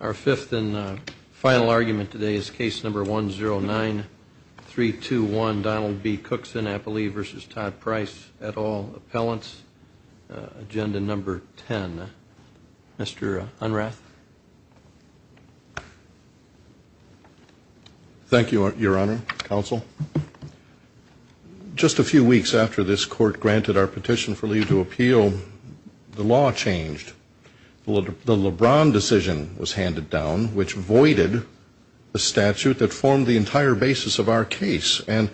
Our fifth and final argument today is case number 109321, Donald B. Cookson v. Todd Price et al. Appellants. Agenda number 10. Mr. Unrath. Thank you, Your Honor, Counsel. Just a few weeks after this Court granted our petition for leave to appeal, the law changed. The LeBron decision was handed down, which voided the statute that formed the entire basis of our case. And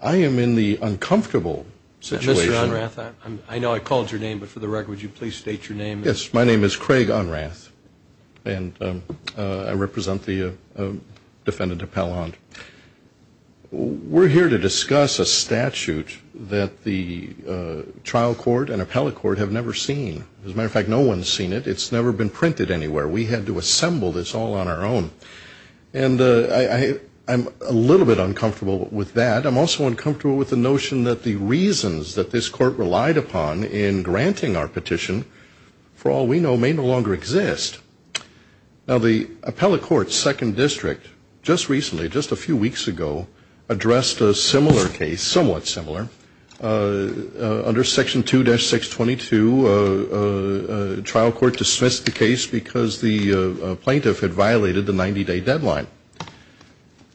I am in the uncomfortable situation Mr. Unrath, I know I called your name, but for the record, would you please state your name? Yes, my name is Craig Unrath, and I represent the defendant appellant. We're here to discuss a statute that the trial court and appellate court have never seen. As a matter of fact, no one's seen it. It's never been printed anywhere. We had to assemble this all on our own. And I'm a little bit uncomfortable with that. I'm also uncomfortable with the notion that the reasons that this Court relied upon in granting our petition, for all we know, may no longer exist. Now the appellate court's second district just recently, just a few weeks ago, addressed a similar case, somewhat similar. Under Section 2-622, the trial court dismissed the case because the plaintiff had violated the 90-day deadline.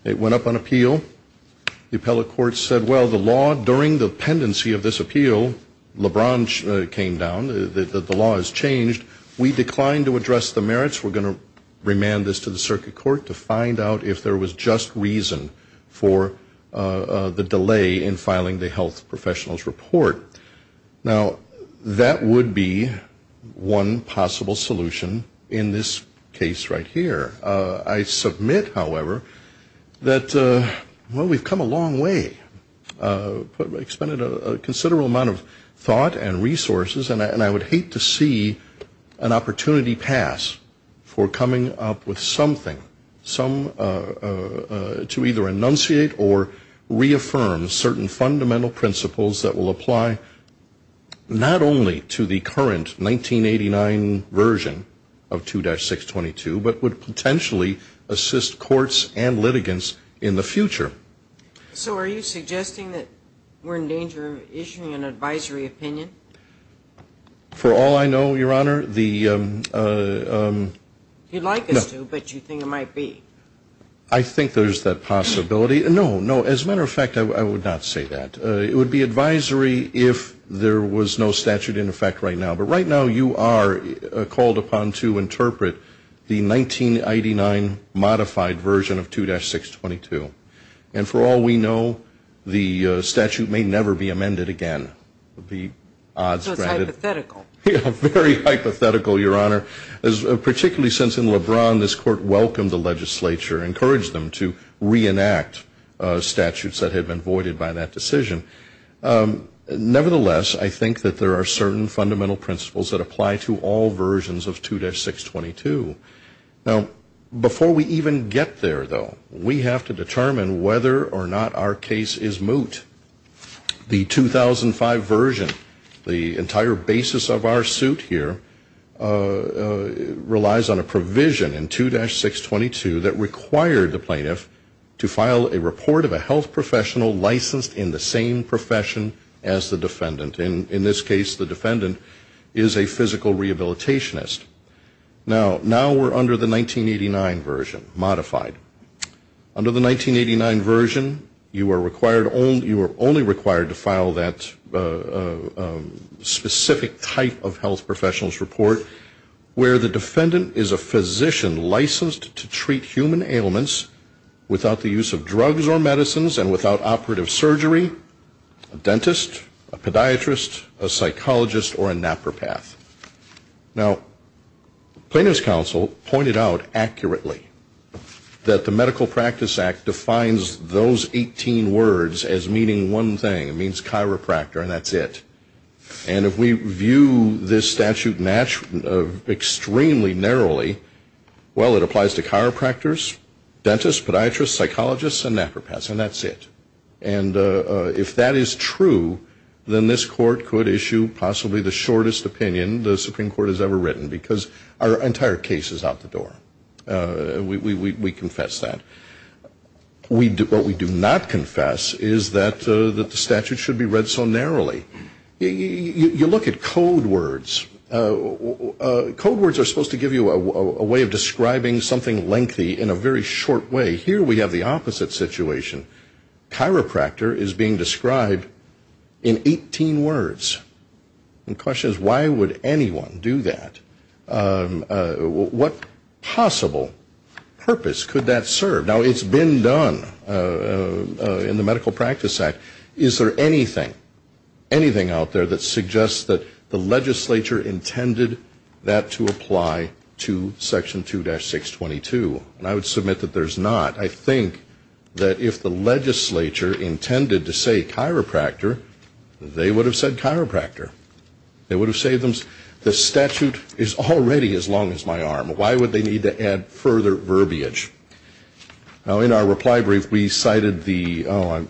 It went up on appeal. The appellate court said, well, the bench came down. The law has changed. We declined to address the merits. We're going to remand this to the circuit court to find out if there was just reason for the delay in filing the Health Professionals Report. Now, that would be one possible solution in this case right here. I submit, however, that, well, we've come a long way. We've expended a considerable amount of thought and resources. And I would hate to see an opportunity pass for coming up with something, to either enunciate or reaffirm certain fundamental principles that will apply not only to the current 1989 version of 2-622, but would potentially assist courts and litigants in the future. So are you suggesting that we're in danger of issuing an advisory opinion? For all I know, Your Honor, the You'd like us to, but you think it might be. I think there's that possibility. No, no. As a matter of fact, I would not say that. It would be advisory if there was no statute in effect right now. But right now, you are And for all we know, the statute may never be amended again. So it's hypothetical. Yeah, very hypothetical, Your Honor. Particularly since in LeBron, this court welcomed the legislature, encouraged them to reenact statutes that had been voided by that decision. Nevertheless, I think that there are certain fundamental principles that apply to all versions of 2-622. Now, before we even get there, though, we have to determine whether or not our case is moot. The 2005 version, the entire basis of our suit here, relies on a provision in 2-622 that required the plaintiff to file a report of a health professional licensed in the same profession as the defendant. In this case, the defendant is a physical rehabilitationist. Now, we're under the 1989 version, modified. Under the 1989 version, you are only required to file that specific type of health professional's report where the defendant is a physician licensed to treat human ailments without the use of drugs or medicines and without operative surgery, a dentist, a podiatrist, a psychologist, or a napropath. Now, plaintiff's counsel pointed out accurately that the Medical Practice Act defines those 18 words as meaning one thing. It means chiropractor, and that's it. And if we view this statute extremely narrowly, well, it applies to chiropractors, dentists, podiatrists, psychologists, and napropaths, and that's it. And if that is true, then this court could issue possibly the most extensive petition the Supreme Court has ever written, because our entire case is out the door. We confess that. What we do not confess is that the statute should be read so narrowly. You look at code words. Code words are supposed to give you a way of describing something lengthy in a very short way. Here we have the opposite situation. Chiropractor is being described in 18 words. And the question is, why would anyone do that? What possible purpose could that serve? Now, it's been done in the Medical Practice Act. Is there anything, anything out there that suggests that the legislature intended that to apply to Section 2-622? And I would submit that there's not. I think that if the legislature intended to say chiropractor, they would have said chiropractor. They would have said the statute is already as long as my arm. Why would they need to add further verbiage? Now, in our reply brief, we cited the, oh,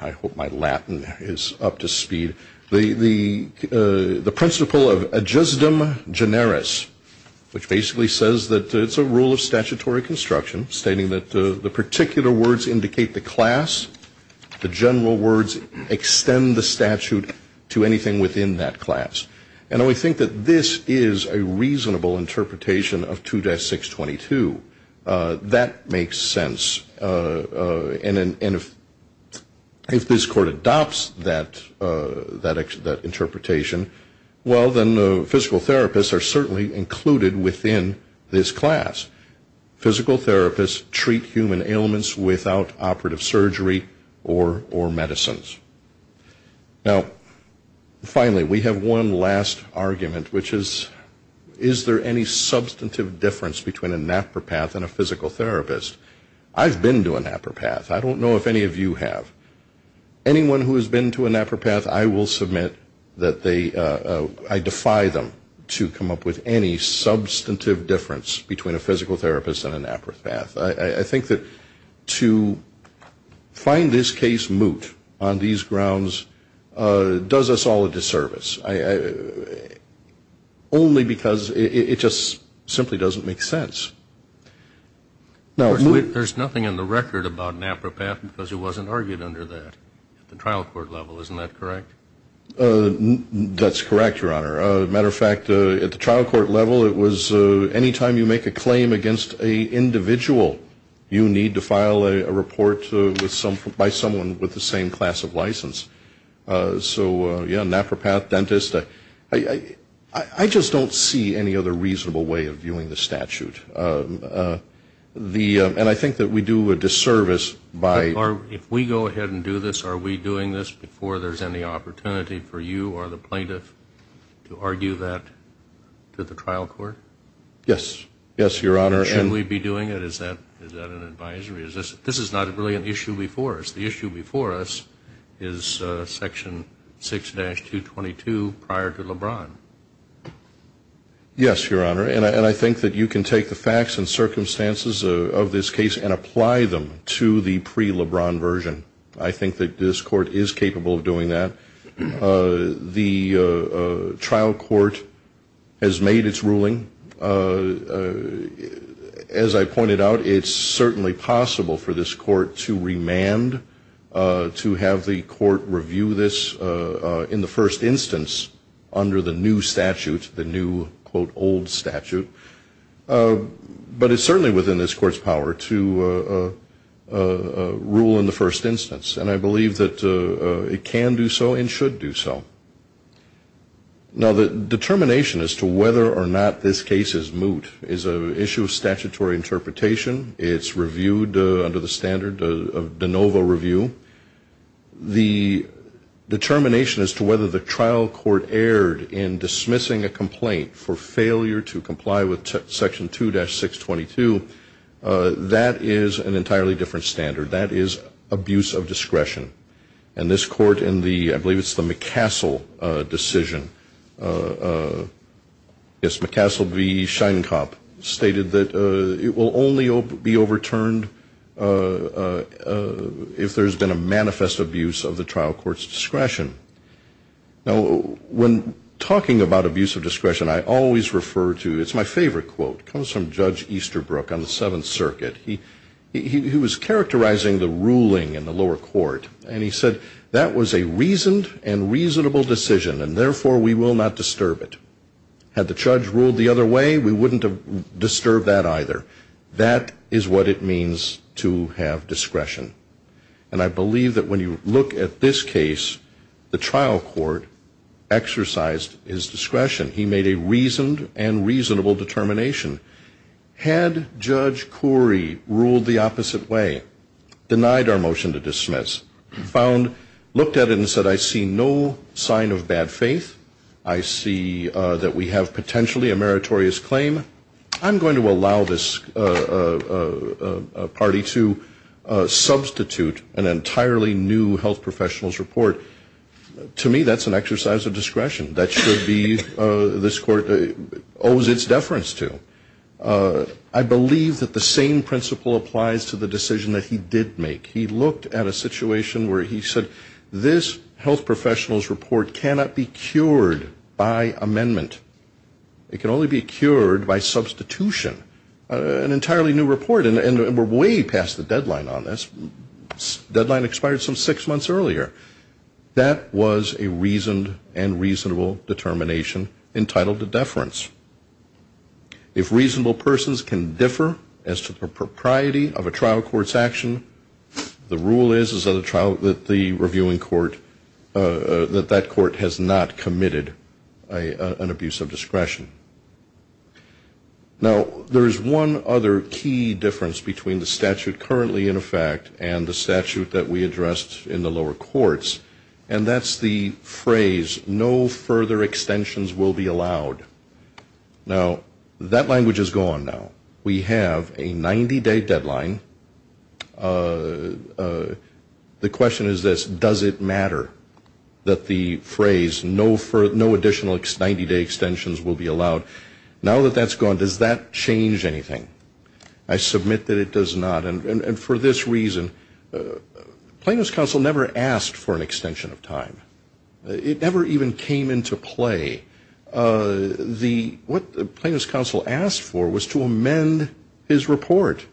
I hope my Latin is up to speed, the principle of adjustum generis, which basically says that it's a rule of statutory construction stating that the particular words indicate the class, the general words extend the statute to anything within that class. And we think that this is a reasonable interpretation of 2-622. That makes sense. And if this Court adopts that interpretation, well, then physical therapists are certainly included within this class. Physical therapists treat human ailments without operative surgery or medicines. Now, finally, we have one last argument, which is, is there any substantive difference between a napperpath and a physical therapist? I've been to a napperpath. I don't know if any of you have. Anyone who has been to a napperpath, I will submit that they, I defy them to come up with any substantive difference between a physical therapist and a napperpath. I think that to find this case moot on these grounds does us all a disservice, only because it just simply doesn't make sense. There's nothing in the record about that at the trial court level. Isn't that correct? That's correct, Your Honor. As a matter of fact, at the trial court level, it was any time you make a claim against an individual, you need to file a report by someone with the same class of license. So, yeah, napperpath, dentist, I just don't see any other reasonable way of viewing the statute. And I think that we do a disservice by if we go ahead and do this, are we doing this before there's any opportunity for you or the plaintiff to argue that to the trial court? Yes. Yes, Your Honor. And should we be doing it? Is that, is that an advisory? Is this, this is not really an issue before us. The issue before us is Section 6-222 prior to LeBron. Yes, Your Honor. And I think that you can take the facts and circumstances of this case and apply them to the pre-LeBron version. I think that this court is capable of doing that. The trial court has made its ruling. As I pointed out, it's certainly possible for this court to remand, to have the court review this in the first instance under the new statute, the new, quote, old statute. But it's certainly within this court's power to rule in the first instance. And I believe that it can do so and should do so. Now, the determination as to whether or not this case is moot is an issue of statutory interpretation. It's reviewed under the standard of de novo review. The determination as to whether the trial court erred in dismissing a complaint for failure to comply with Section 2-622, that is an entirely different standard. That is abuse of discretion. And this court in the, I believe it's the McCassell decision, yes, McCassell v. Sheinkopf stated that it will only be overturned if there's been a manifest abuse of the trial court's discretion. Now, when talking about abuse of discretion, I always refer to, it's my favorite quote, comes from Judge Easterbrook on the Seventh Circuit. He was characterizing the ruling in the lower court. And he said, that was a reasoned and reasonable decision, and therefore we will not disturb it. Had the judge ruled the other way, we wouldn't have disturbed that either. That is what it means to have discretion. And I believe that when you look at this case, the trial court exercised his discretion. He made a reasoned and reasonable determination. Had Judge Corey ruled the opposite way, denied our motion to dismiss, found, looked at it and said, I see no sign of bad faith, I see that we have potentially a meritorious claim, I'm going to allow this party to substitute an entirely new health professional's report, to me that's an exercise of discretion. That should be, this court owes its deference to. I believe that the same principle applies to the decision that he did make. He looked at a situation where he said, this health professional's report cannot be cured by amendment. It can only be cured by substitution. An entirely new report, and we're way past the deadline on this. Deadline expired some six months earlier. That was a reasoned and reasonable determination entitled to deference. If reasonable persons can differ as to the propriety of a trial court's action, the rule is that the reviewing court, that that court has not committed an abuse of Now, there's one other key difference between the statute currently in effect and the statute that we addressed in the lower courts, and that's the phrase, no further extensions will be allowed. Now, that language is gone now. We have a 90-day deadline. The question is this, does it matter that the phrase, no additional 90-day extensions will be allowed? Now that that's gone, does that change anything? I submit that it does not. And for this reason, Plaintiff's counsel never asked for an extension of time. It never even came into play. What the plaintiff's counsel asked for was to amend his report,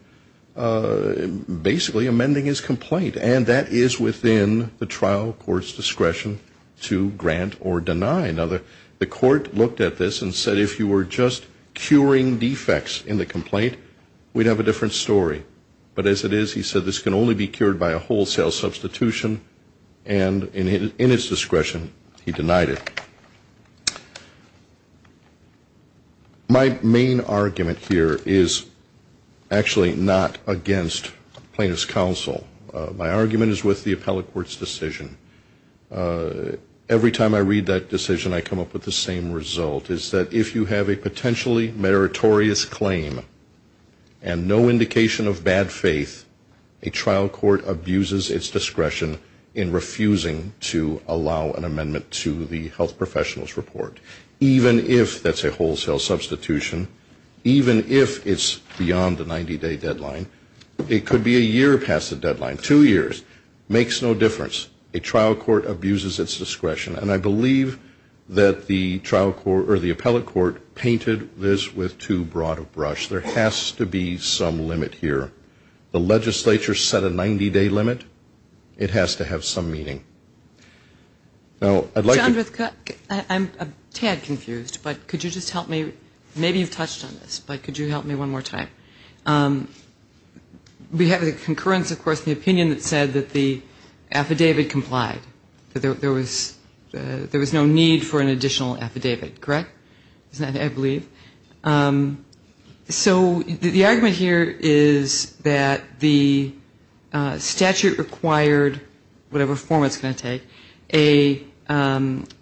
basically amending his complaint. And that is within the trial court's discretion to grant or deny. Now, the court looked at this and said if you were just curing defects in the complaint, we'd have a different story. But as it is, he said this can only be cured by a wholesale substitution. And in his discretion, he denied it. My main argument here is actually not against plaintiff's counsel. My argument is with the if you have a potentially meritorious claim and no indication of bad faith, a trial court abuses its discretion in refusing to allow an amendment to the Health Professionals Report. Even if that's a wholesale substitution, even if it's beyond the 90-day deadline, it could be a year past the deadline, two years, makes no difference. A trial court abuses its discretion. And I believe that the trial court or the appellate court painted this with too broad a brush. There has to be some limit here. The legislature set a 90-day limit. It has to have some meaning. Now, I'd like to John, I'm a tad confused, but could you just help me? Maybe you've touched on this, but could you help me one more time? We have a concurrence, of course, in the opinion that said that the affidavit complied, that there was no need for an additional affidavit, correct? Is that what I believe? So the argument here is that the statute required, whatever form it's going to take, a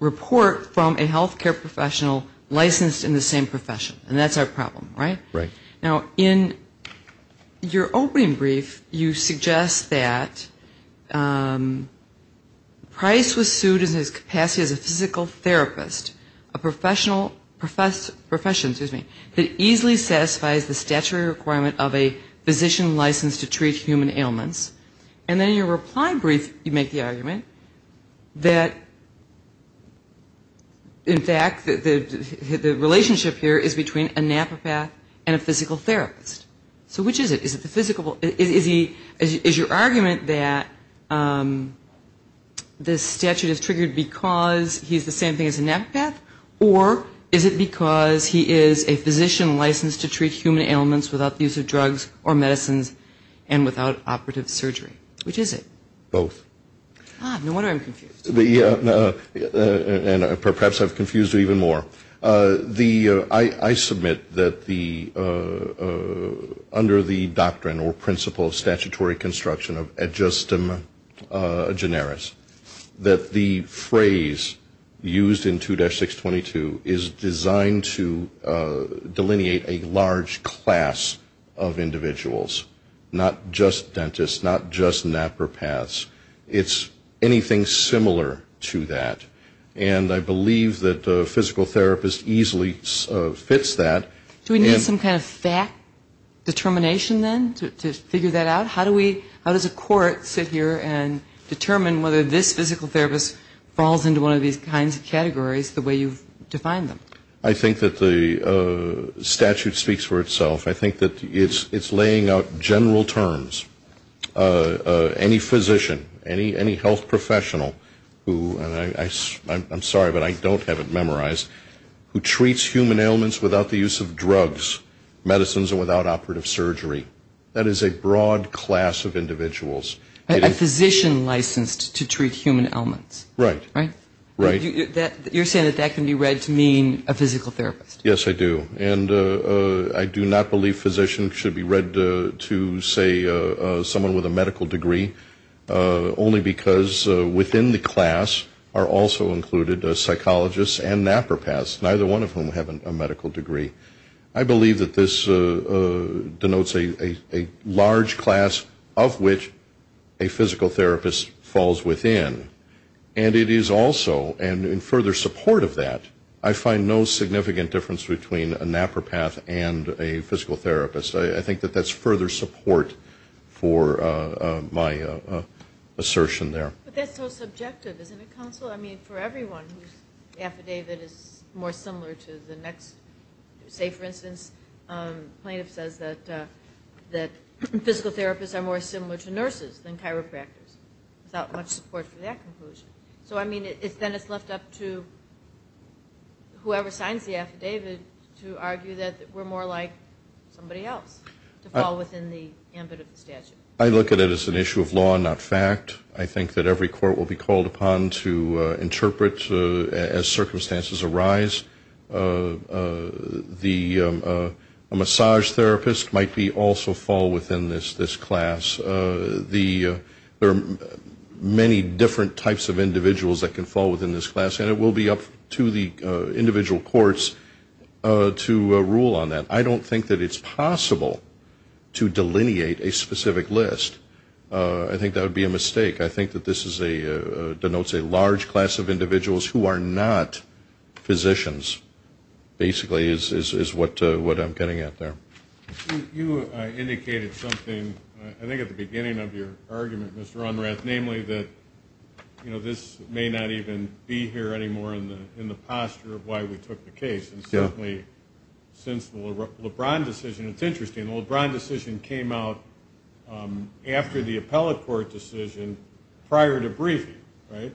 report from a health care professional licensed in the same profession. And that's our problem, right? Now, in your opening brief, you suggest that Price was sued in his capacity as a physical therapist, a professional, profession, excuse me, that easily satisfies the statutory requirement of a physician licensed to treat human ailments. And then in your reply brief, you make the argument that, in fact, the relationship here is between a nephropath and a physical therapist. So which is it? Is it the physical, is he, is your argument that this statute is triggered because he's the same thing as a nephropath? Or is it because he is a physician licensed to treat human ailments without the use of drugs or medicines and without operative surgery? Which is it? Both. God, no wonder I'm confused. The, and perhaps I've confused you even more. The, I submit that the, under the doctrine or principle of statutory construction of ad justem generis, that the of individuals, not just dentists, not just nephropaths. It's anything similar to that. And I believe that a physical therapist easily fits that. Do we need some kind of fact determination, then, to figure that out? How do we, how does a court sit here and determine whether this physical therapist falls into one of these kinds of categories the way you've defined them? I think that the statute speaks for itself. I think that it's laying out general terms. Any physician, any health professional who, and I'm sorry, but I don't have it memorized, who treats human ailments without the use of drugs, medicines, or without operative surgery. That is a broad class of individuals. A physician licensed to treat human ailments. Right. Right? Right. You're saying that that can be read to mean a physical therapist. Yes, I do. And I do not believe physicians should be read to say someone with a medical degree only because within the class are also included psychologists and nephropaths, neither one of whom have a medical degree. I believe that this denotes a large class of which a physical therapist falls within. And it is also, and in further support of that, I find no significant difference between a nephropath and a physical therapist. I think that that's further support for my assertion there. But that's so subjective, isn't it, counsel? I mean, for everyone whose affidavit is more similar to the next, say for instance, plaintiff says that physical therapists are more similar to nurses than chiropractors, without much support for that conclusion. So I mean, then it's left up to whoever signs the affidavit to argue that we're more like somebody else to fall within the ambit of the statute. I look at it as an issue of law, not fact. I think that every court will be called upon to interpret as circumstances arise. A massage therapist might also fall within this class. There are many different types of individuals that can fall within this class, and it will be up to the individual courts to rule on that. I don't think that it's possible to delineate a specific list. I think that would be a mistake. I think that this denotes a large class of individuals who are not physicians, basically, is what I'm getting at there. You indicated something, I think, at the beginning of your argument, Mr. Unrath, namely that this may not even be here anymore in the posture of why we took the case. And certainly, since the LeBron decision, it's interesting, the LeBron decision came out after the appellate court decision prior to briefing, right?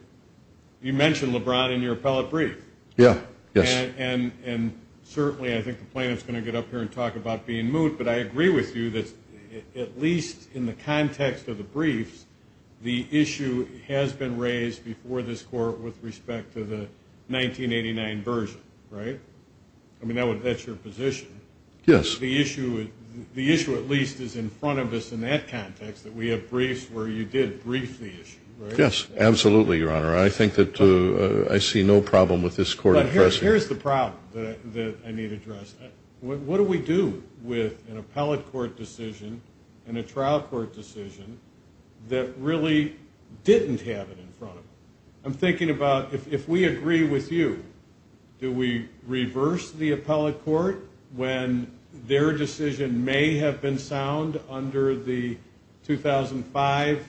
You mentioned LeBron in your appellate brief. Yeah, yes. And certainly, I think the plaintiff's going to get up here and talk about being moot, but I agree with you that, at least in the context of the briefs, the issue has been raised before this court with respect to the 1989 version, right? I mean, that's your position. Yes. The issue, at least, is in front of us in that context, that we have briefs where you did brief the issue, right? Yes, absolutely, Your Honor. I think that I see no problem with this court addressing it. Here's the problem that I need to address. What do we do with an appellate court decision and a trial court decision that really didn't have it in front of them? I'm thinking about, if we agree with you, do we reverse the appellate court when their decision may have been sound under the 2005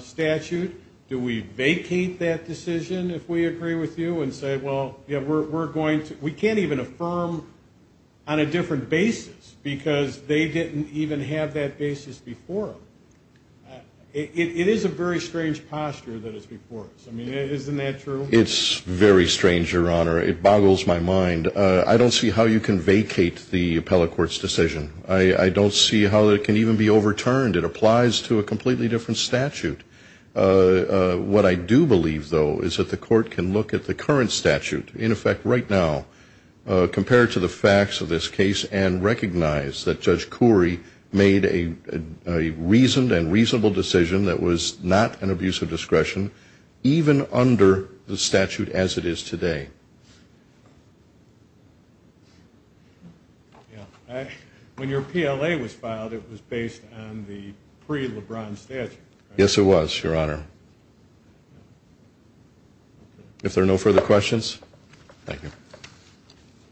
statute? Do we vacate that decision if we agree with you and say, well, we can't even affirm on a different basis because they didn't even have that basis before? It is a very strange posture that is before us. I mean, isn't that true? It's very strange, Your Honor. It boggles my mind. I don't see how you can vacate the appellate court's decision. I don't see how it can even be overturned. It applies to a completely different statute. What I do believe, though, is that the court can look at the current statute, in effect, right now, compared to the facts of this case, and recognize that Judge Corey made a reasoned and reasonable decision that was not an abuse of discretion, even under the statute as it is today. When your PLA was filed, it was based on the pre-Lebron statute. Yes, it was, Your Honor. If there are no further questions, thank you.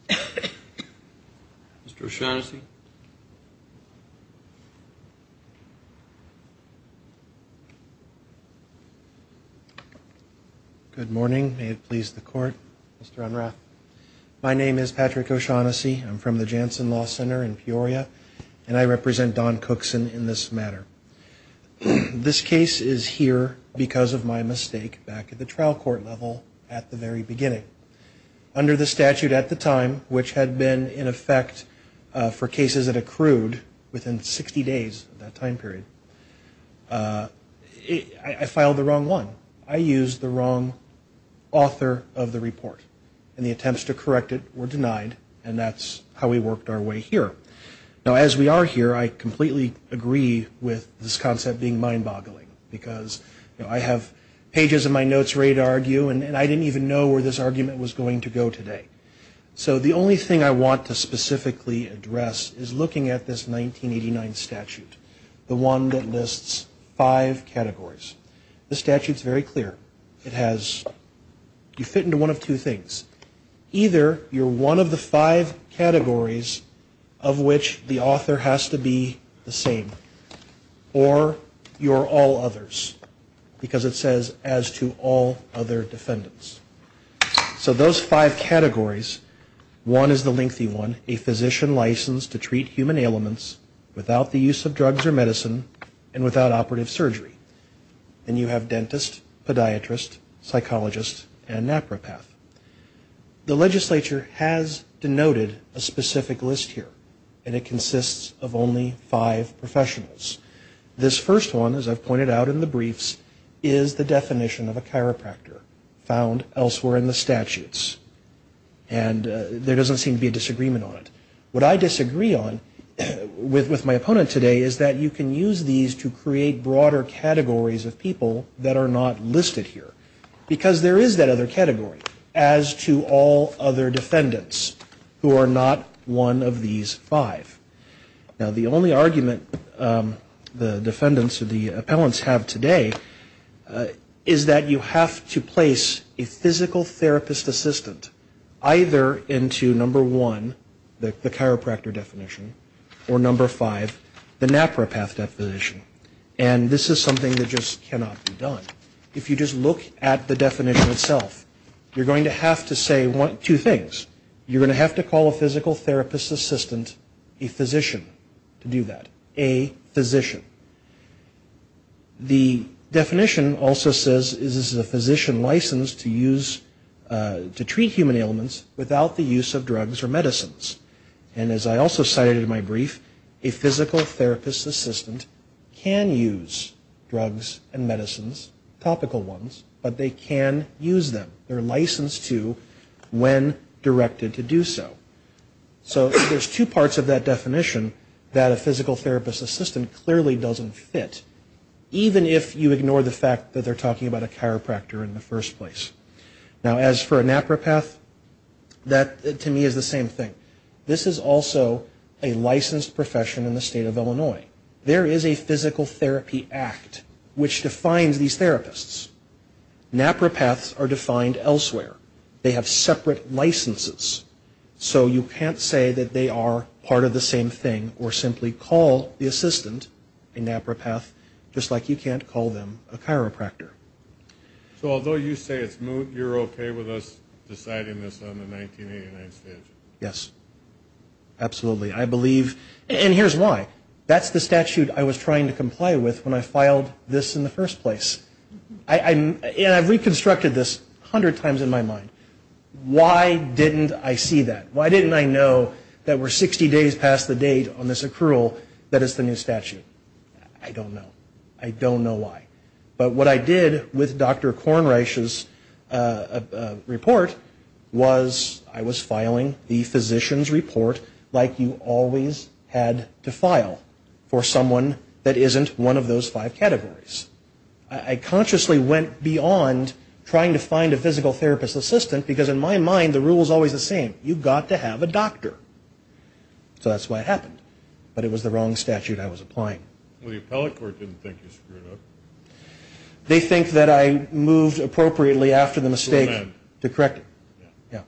Mr. O'Shaughnessy. Good morning. May it please the court. Mr. Unrath. My name is Patrick O'Shaughnessy. I'm from the Janssen Law Center in Peoria, and I represent Don Cookson in this matter. This case is here because of my mistake back at the trial court level at the very beginning. Under the statute at the time, which had been in effect for cases that accrued within 60 days of that time period, I filed the wrong one. I used the wrong author of the report, and the attempts to correct it were denied, and that's how we worked our way here. Now, as we are here, I completely agree with this concept being mind-boggling, because I have pages of my notes ready to argue, and I didn't even know where this argument was going to go today. So the only thing I want to specifically address is looking at this 1989 statute, the one that lists five categories. The statute's very clear. It has, you fit into one of two things. Either you're one of the five categories of which the author has to be the same, or you're all others, because it says, as to all other defendants. So those five categories, one is the lengthy one, a physician licensed to treat human ailments without the use of drugs or medicine, and without operative surgery. Then you have dentist, podiatrist, psychologist, and nephropath. The legislature has denoted a specific list here, and it consists of only five professionals. This first one, as I've pointed out in the briefs, is the definition of a chiropractor found elsewhere in the statutes, and there doesn't seem to be a disagreement on it. What I disagree on with my opponent today is that you can use these to create broader categories of people that are not listed here, because there is that other category, as to all other defendants who are not one of these five. Now the only argument the defendants or the appellants have today is that you have to place a physical therapist assistant either into number one, the chiropractor definition, or number five, the nephropath definition. And this is something that just cannot be done. If you just look at the definition itself, you're going to have to say two things. You're going to have to call a physical therapist assistant a physician to do that. A physician. The definition also says this is a physician licensed to use, to treat human ailments without the use of drugs or medicines. And as I also cited in my brief, a physical therapist assistant can use drugs and medicines, topical ones, but they can use them. They're licensed to when directed to do so. So there's two parts of that definition that a physical therapist assistant clearly doesn't fit, even if you ignore the fact that they're talking about a chiropractor in the first place. Now as for a nephropath, that to me is the same thing. This is also a licensed profession in the state of Illinois. There is a physical therapy act which defines these therapists. Nephropaths are defined elsewhere. They have separate licenses. So you can't say that they are part of the same thing or simply call the assistant a nephropath just like you can't call them a chiropractor. So although you say it's moot, you're okay with us deciding this on the 1989 stage? Yes. Absolutely. And here's why. That's the statute I was trying to comply with when I filed this in the first place. And I've reconstructed this 100 times in my mind. Why didn't I see that? Why didn't I know that we're 60 days past the date on this accrual that is the new statute? I don't know. I don't know why. But what I did with Dr. Kornreich's report was I was filing the physician's report like you always had to file for someone that isn't one of those five categories. I consciously went beyond trying to find a physical therapist assistant because in my mind the rule is always the same. You've got to have a doctor. So that's why it happened. But it was the wrong statute I was applying. Well, the appellate court didn't think you screwed up. They think that I moved appropriately after the mistake to correct it. Yeah,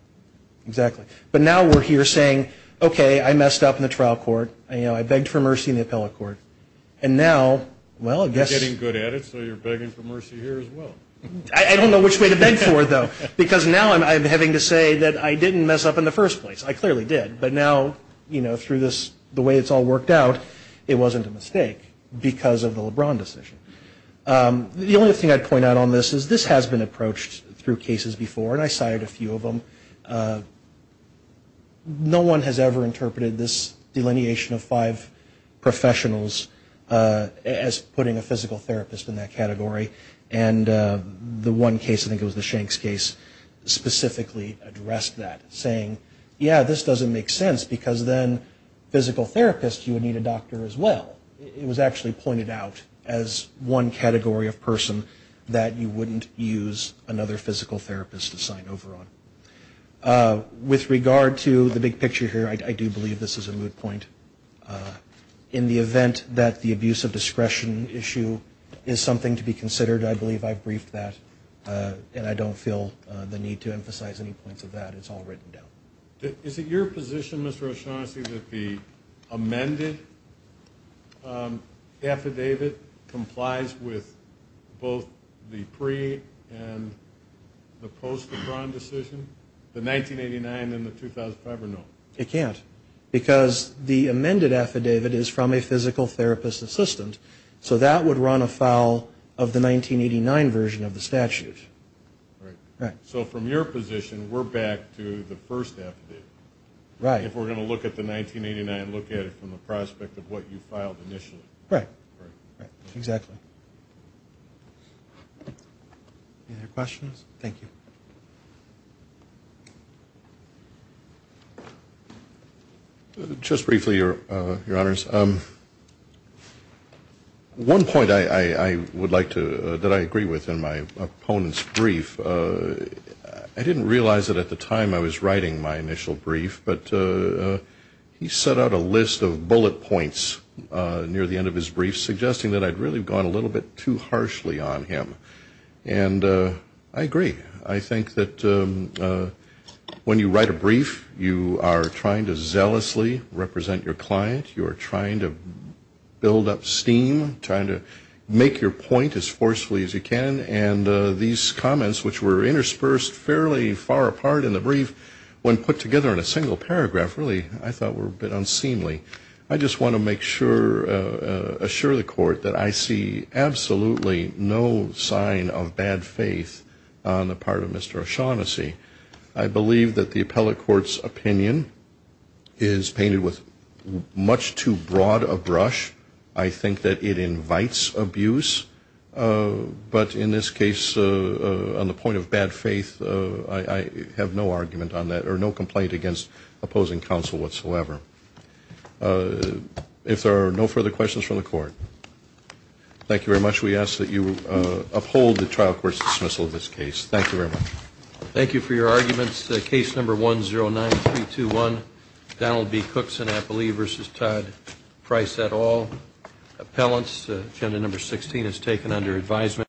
exactly. But now we're here saying, okay, I messed up in the trial court. I begged for mercy in the appellate court. And now, well, I guess. You're getting good at it, so you're begging for mercy here as well. I don't know which way to beg for it, though. Because now I'm having to say that I didn't mess up in the first place. I clearly did. But now, you know, through this, the way it's all worked out, it wasn't a mistake because of the LeBron decision. The only thing I'd point out on this is this has been approached through cases before. And I cited a few of them. No one has ever interpreted this delineation of five professionals as putting a physical therapist in that category. And the one case, I think it was the Shanks case, specifically addressed that, saying, yeah, this doesn't make sense. Because then physical therapists, you would need a doctor as well. It was actually pointed out as one category of person that you wouldn't use another physical therapist to sign over on. With regard to the big picture here, I do believe this is a moot point. In the event that the abuse of discretion issue is something to be considered, I believe I've briefed that. And I don't feel the need to emphasize any points of that. It's all written down. Is it your position, Mr. O'Shaughnessy, that the amended affidavit complies with both the pre- and the post-LeBron decision? The 1989 and the 2005 or no? It can't. Because the amended affidavit is from a physical therapist assistant. So that would run afoul of the 1989 version of the statute. Right. So from your position, we're back to the first affidavit. Right. If we're going to look at the 1989, look at it from the prospect of what you filed initially. Right. Exactly. Any other questions? Thank you. Just briefly, Your Honors. One point that I agree with in my opponent's brief, I didn't realize that at the time I was writing my initial brief. But he set out a list of bullet points near the end of his brief, suggesting that I'd really gone a little bit too harshly on him. And I agree. I think that when you write a brief, you are trying to zealously represent your client. You're trying to build up steam, trying to make your point as forcefully as you can. And these comments, which were interspersed fairly far apart in the brief, when put together in a single paragraph, really, I thought were a bit unseemly. I just want to assure the Court that I see absolutely no sign of bad faith on the part of Mr. O'Shaughnessy. I believe that the appellate court's opinion is painted with much too broad a brush. I think that it invites abuse. But in this case, on the point of bad faith, I have no argument on that or no complaint against opposing counsel whatsoever. If there are no further questions from the Court, thank you very much. We ask that you uphold the trial court's dismissal of this case. Thank you very much. Thank you for your arguments. Case number 109321, Donald B. Cookson, I believe, versus Todd Price et al. Appellants, agenda number 16, as taken under advisement.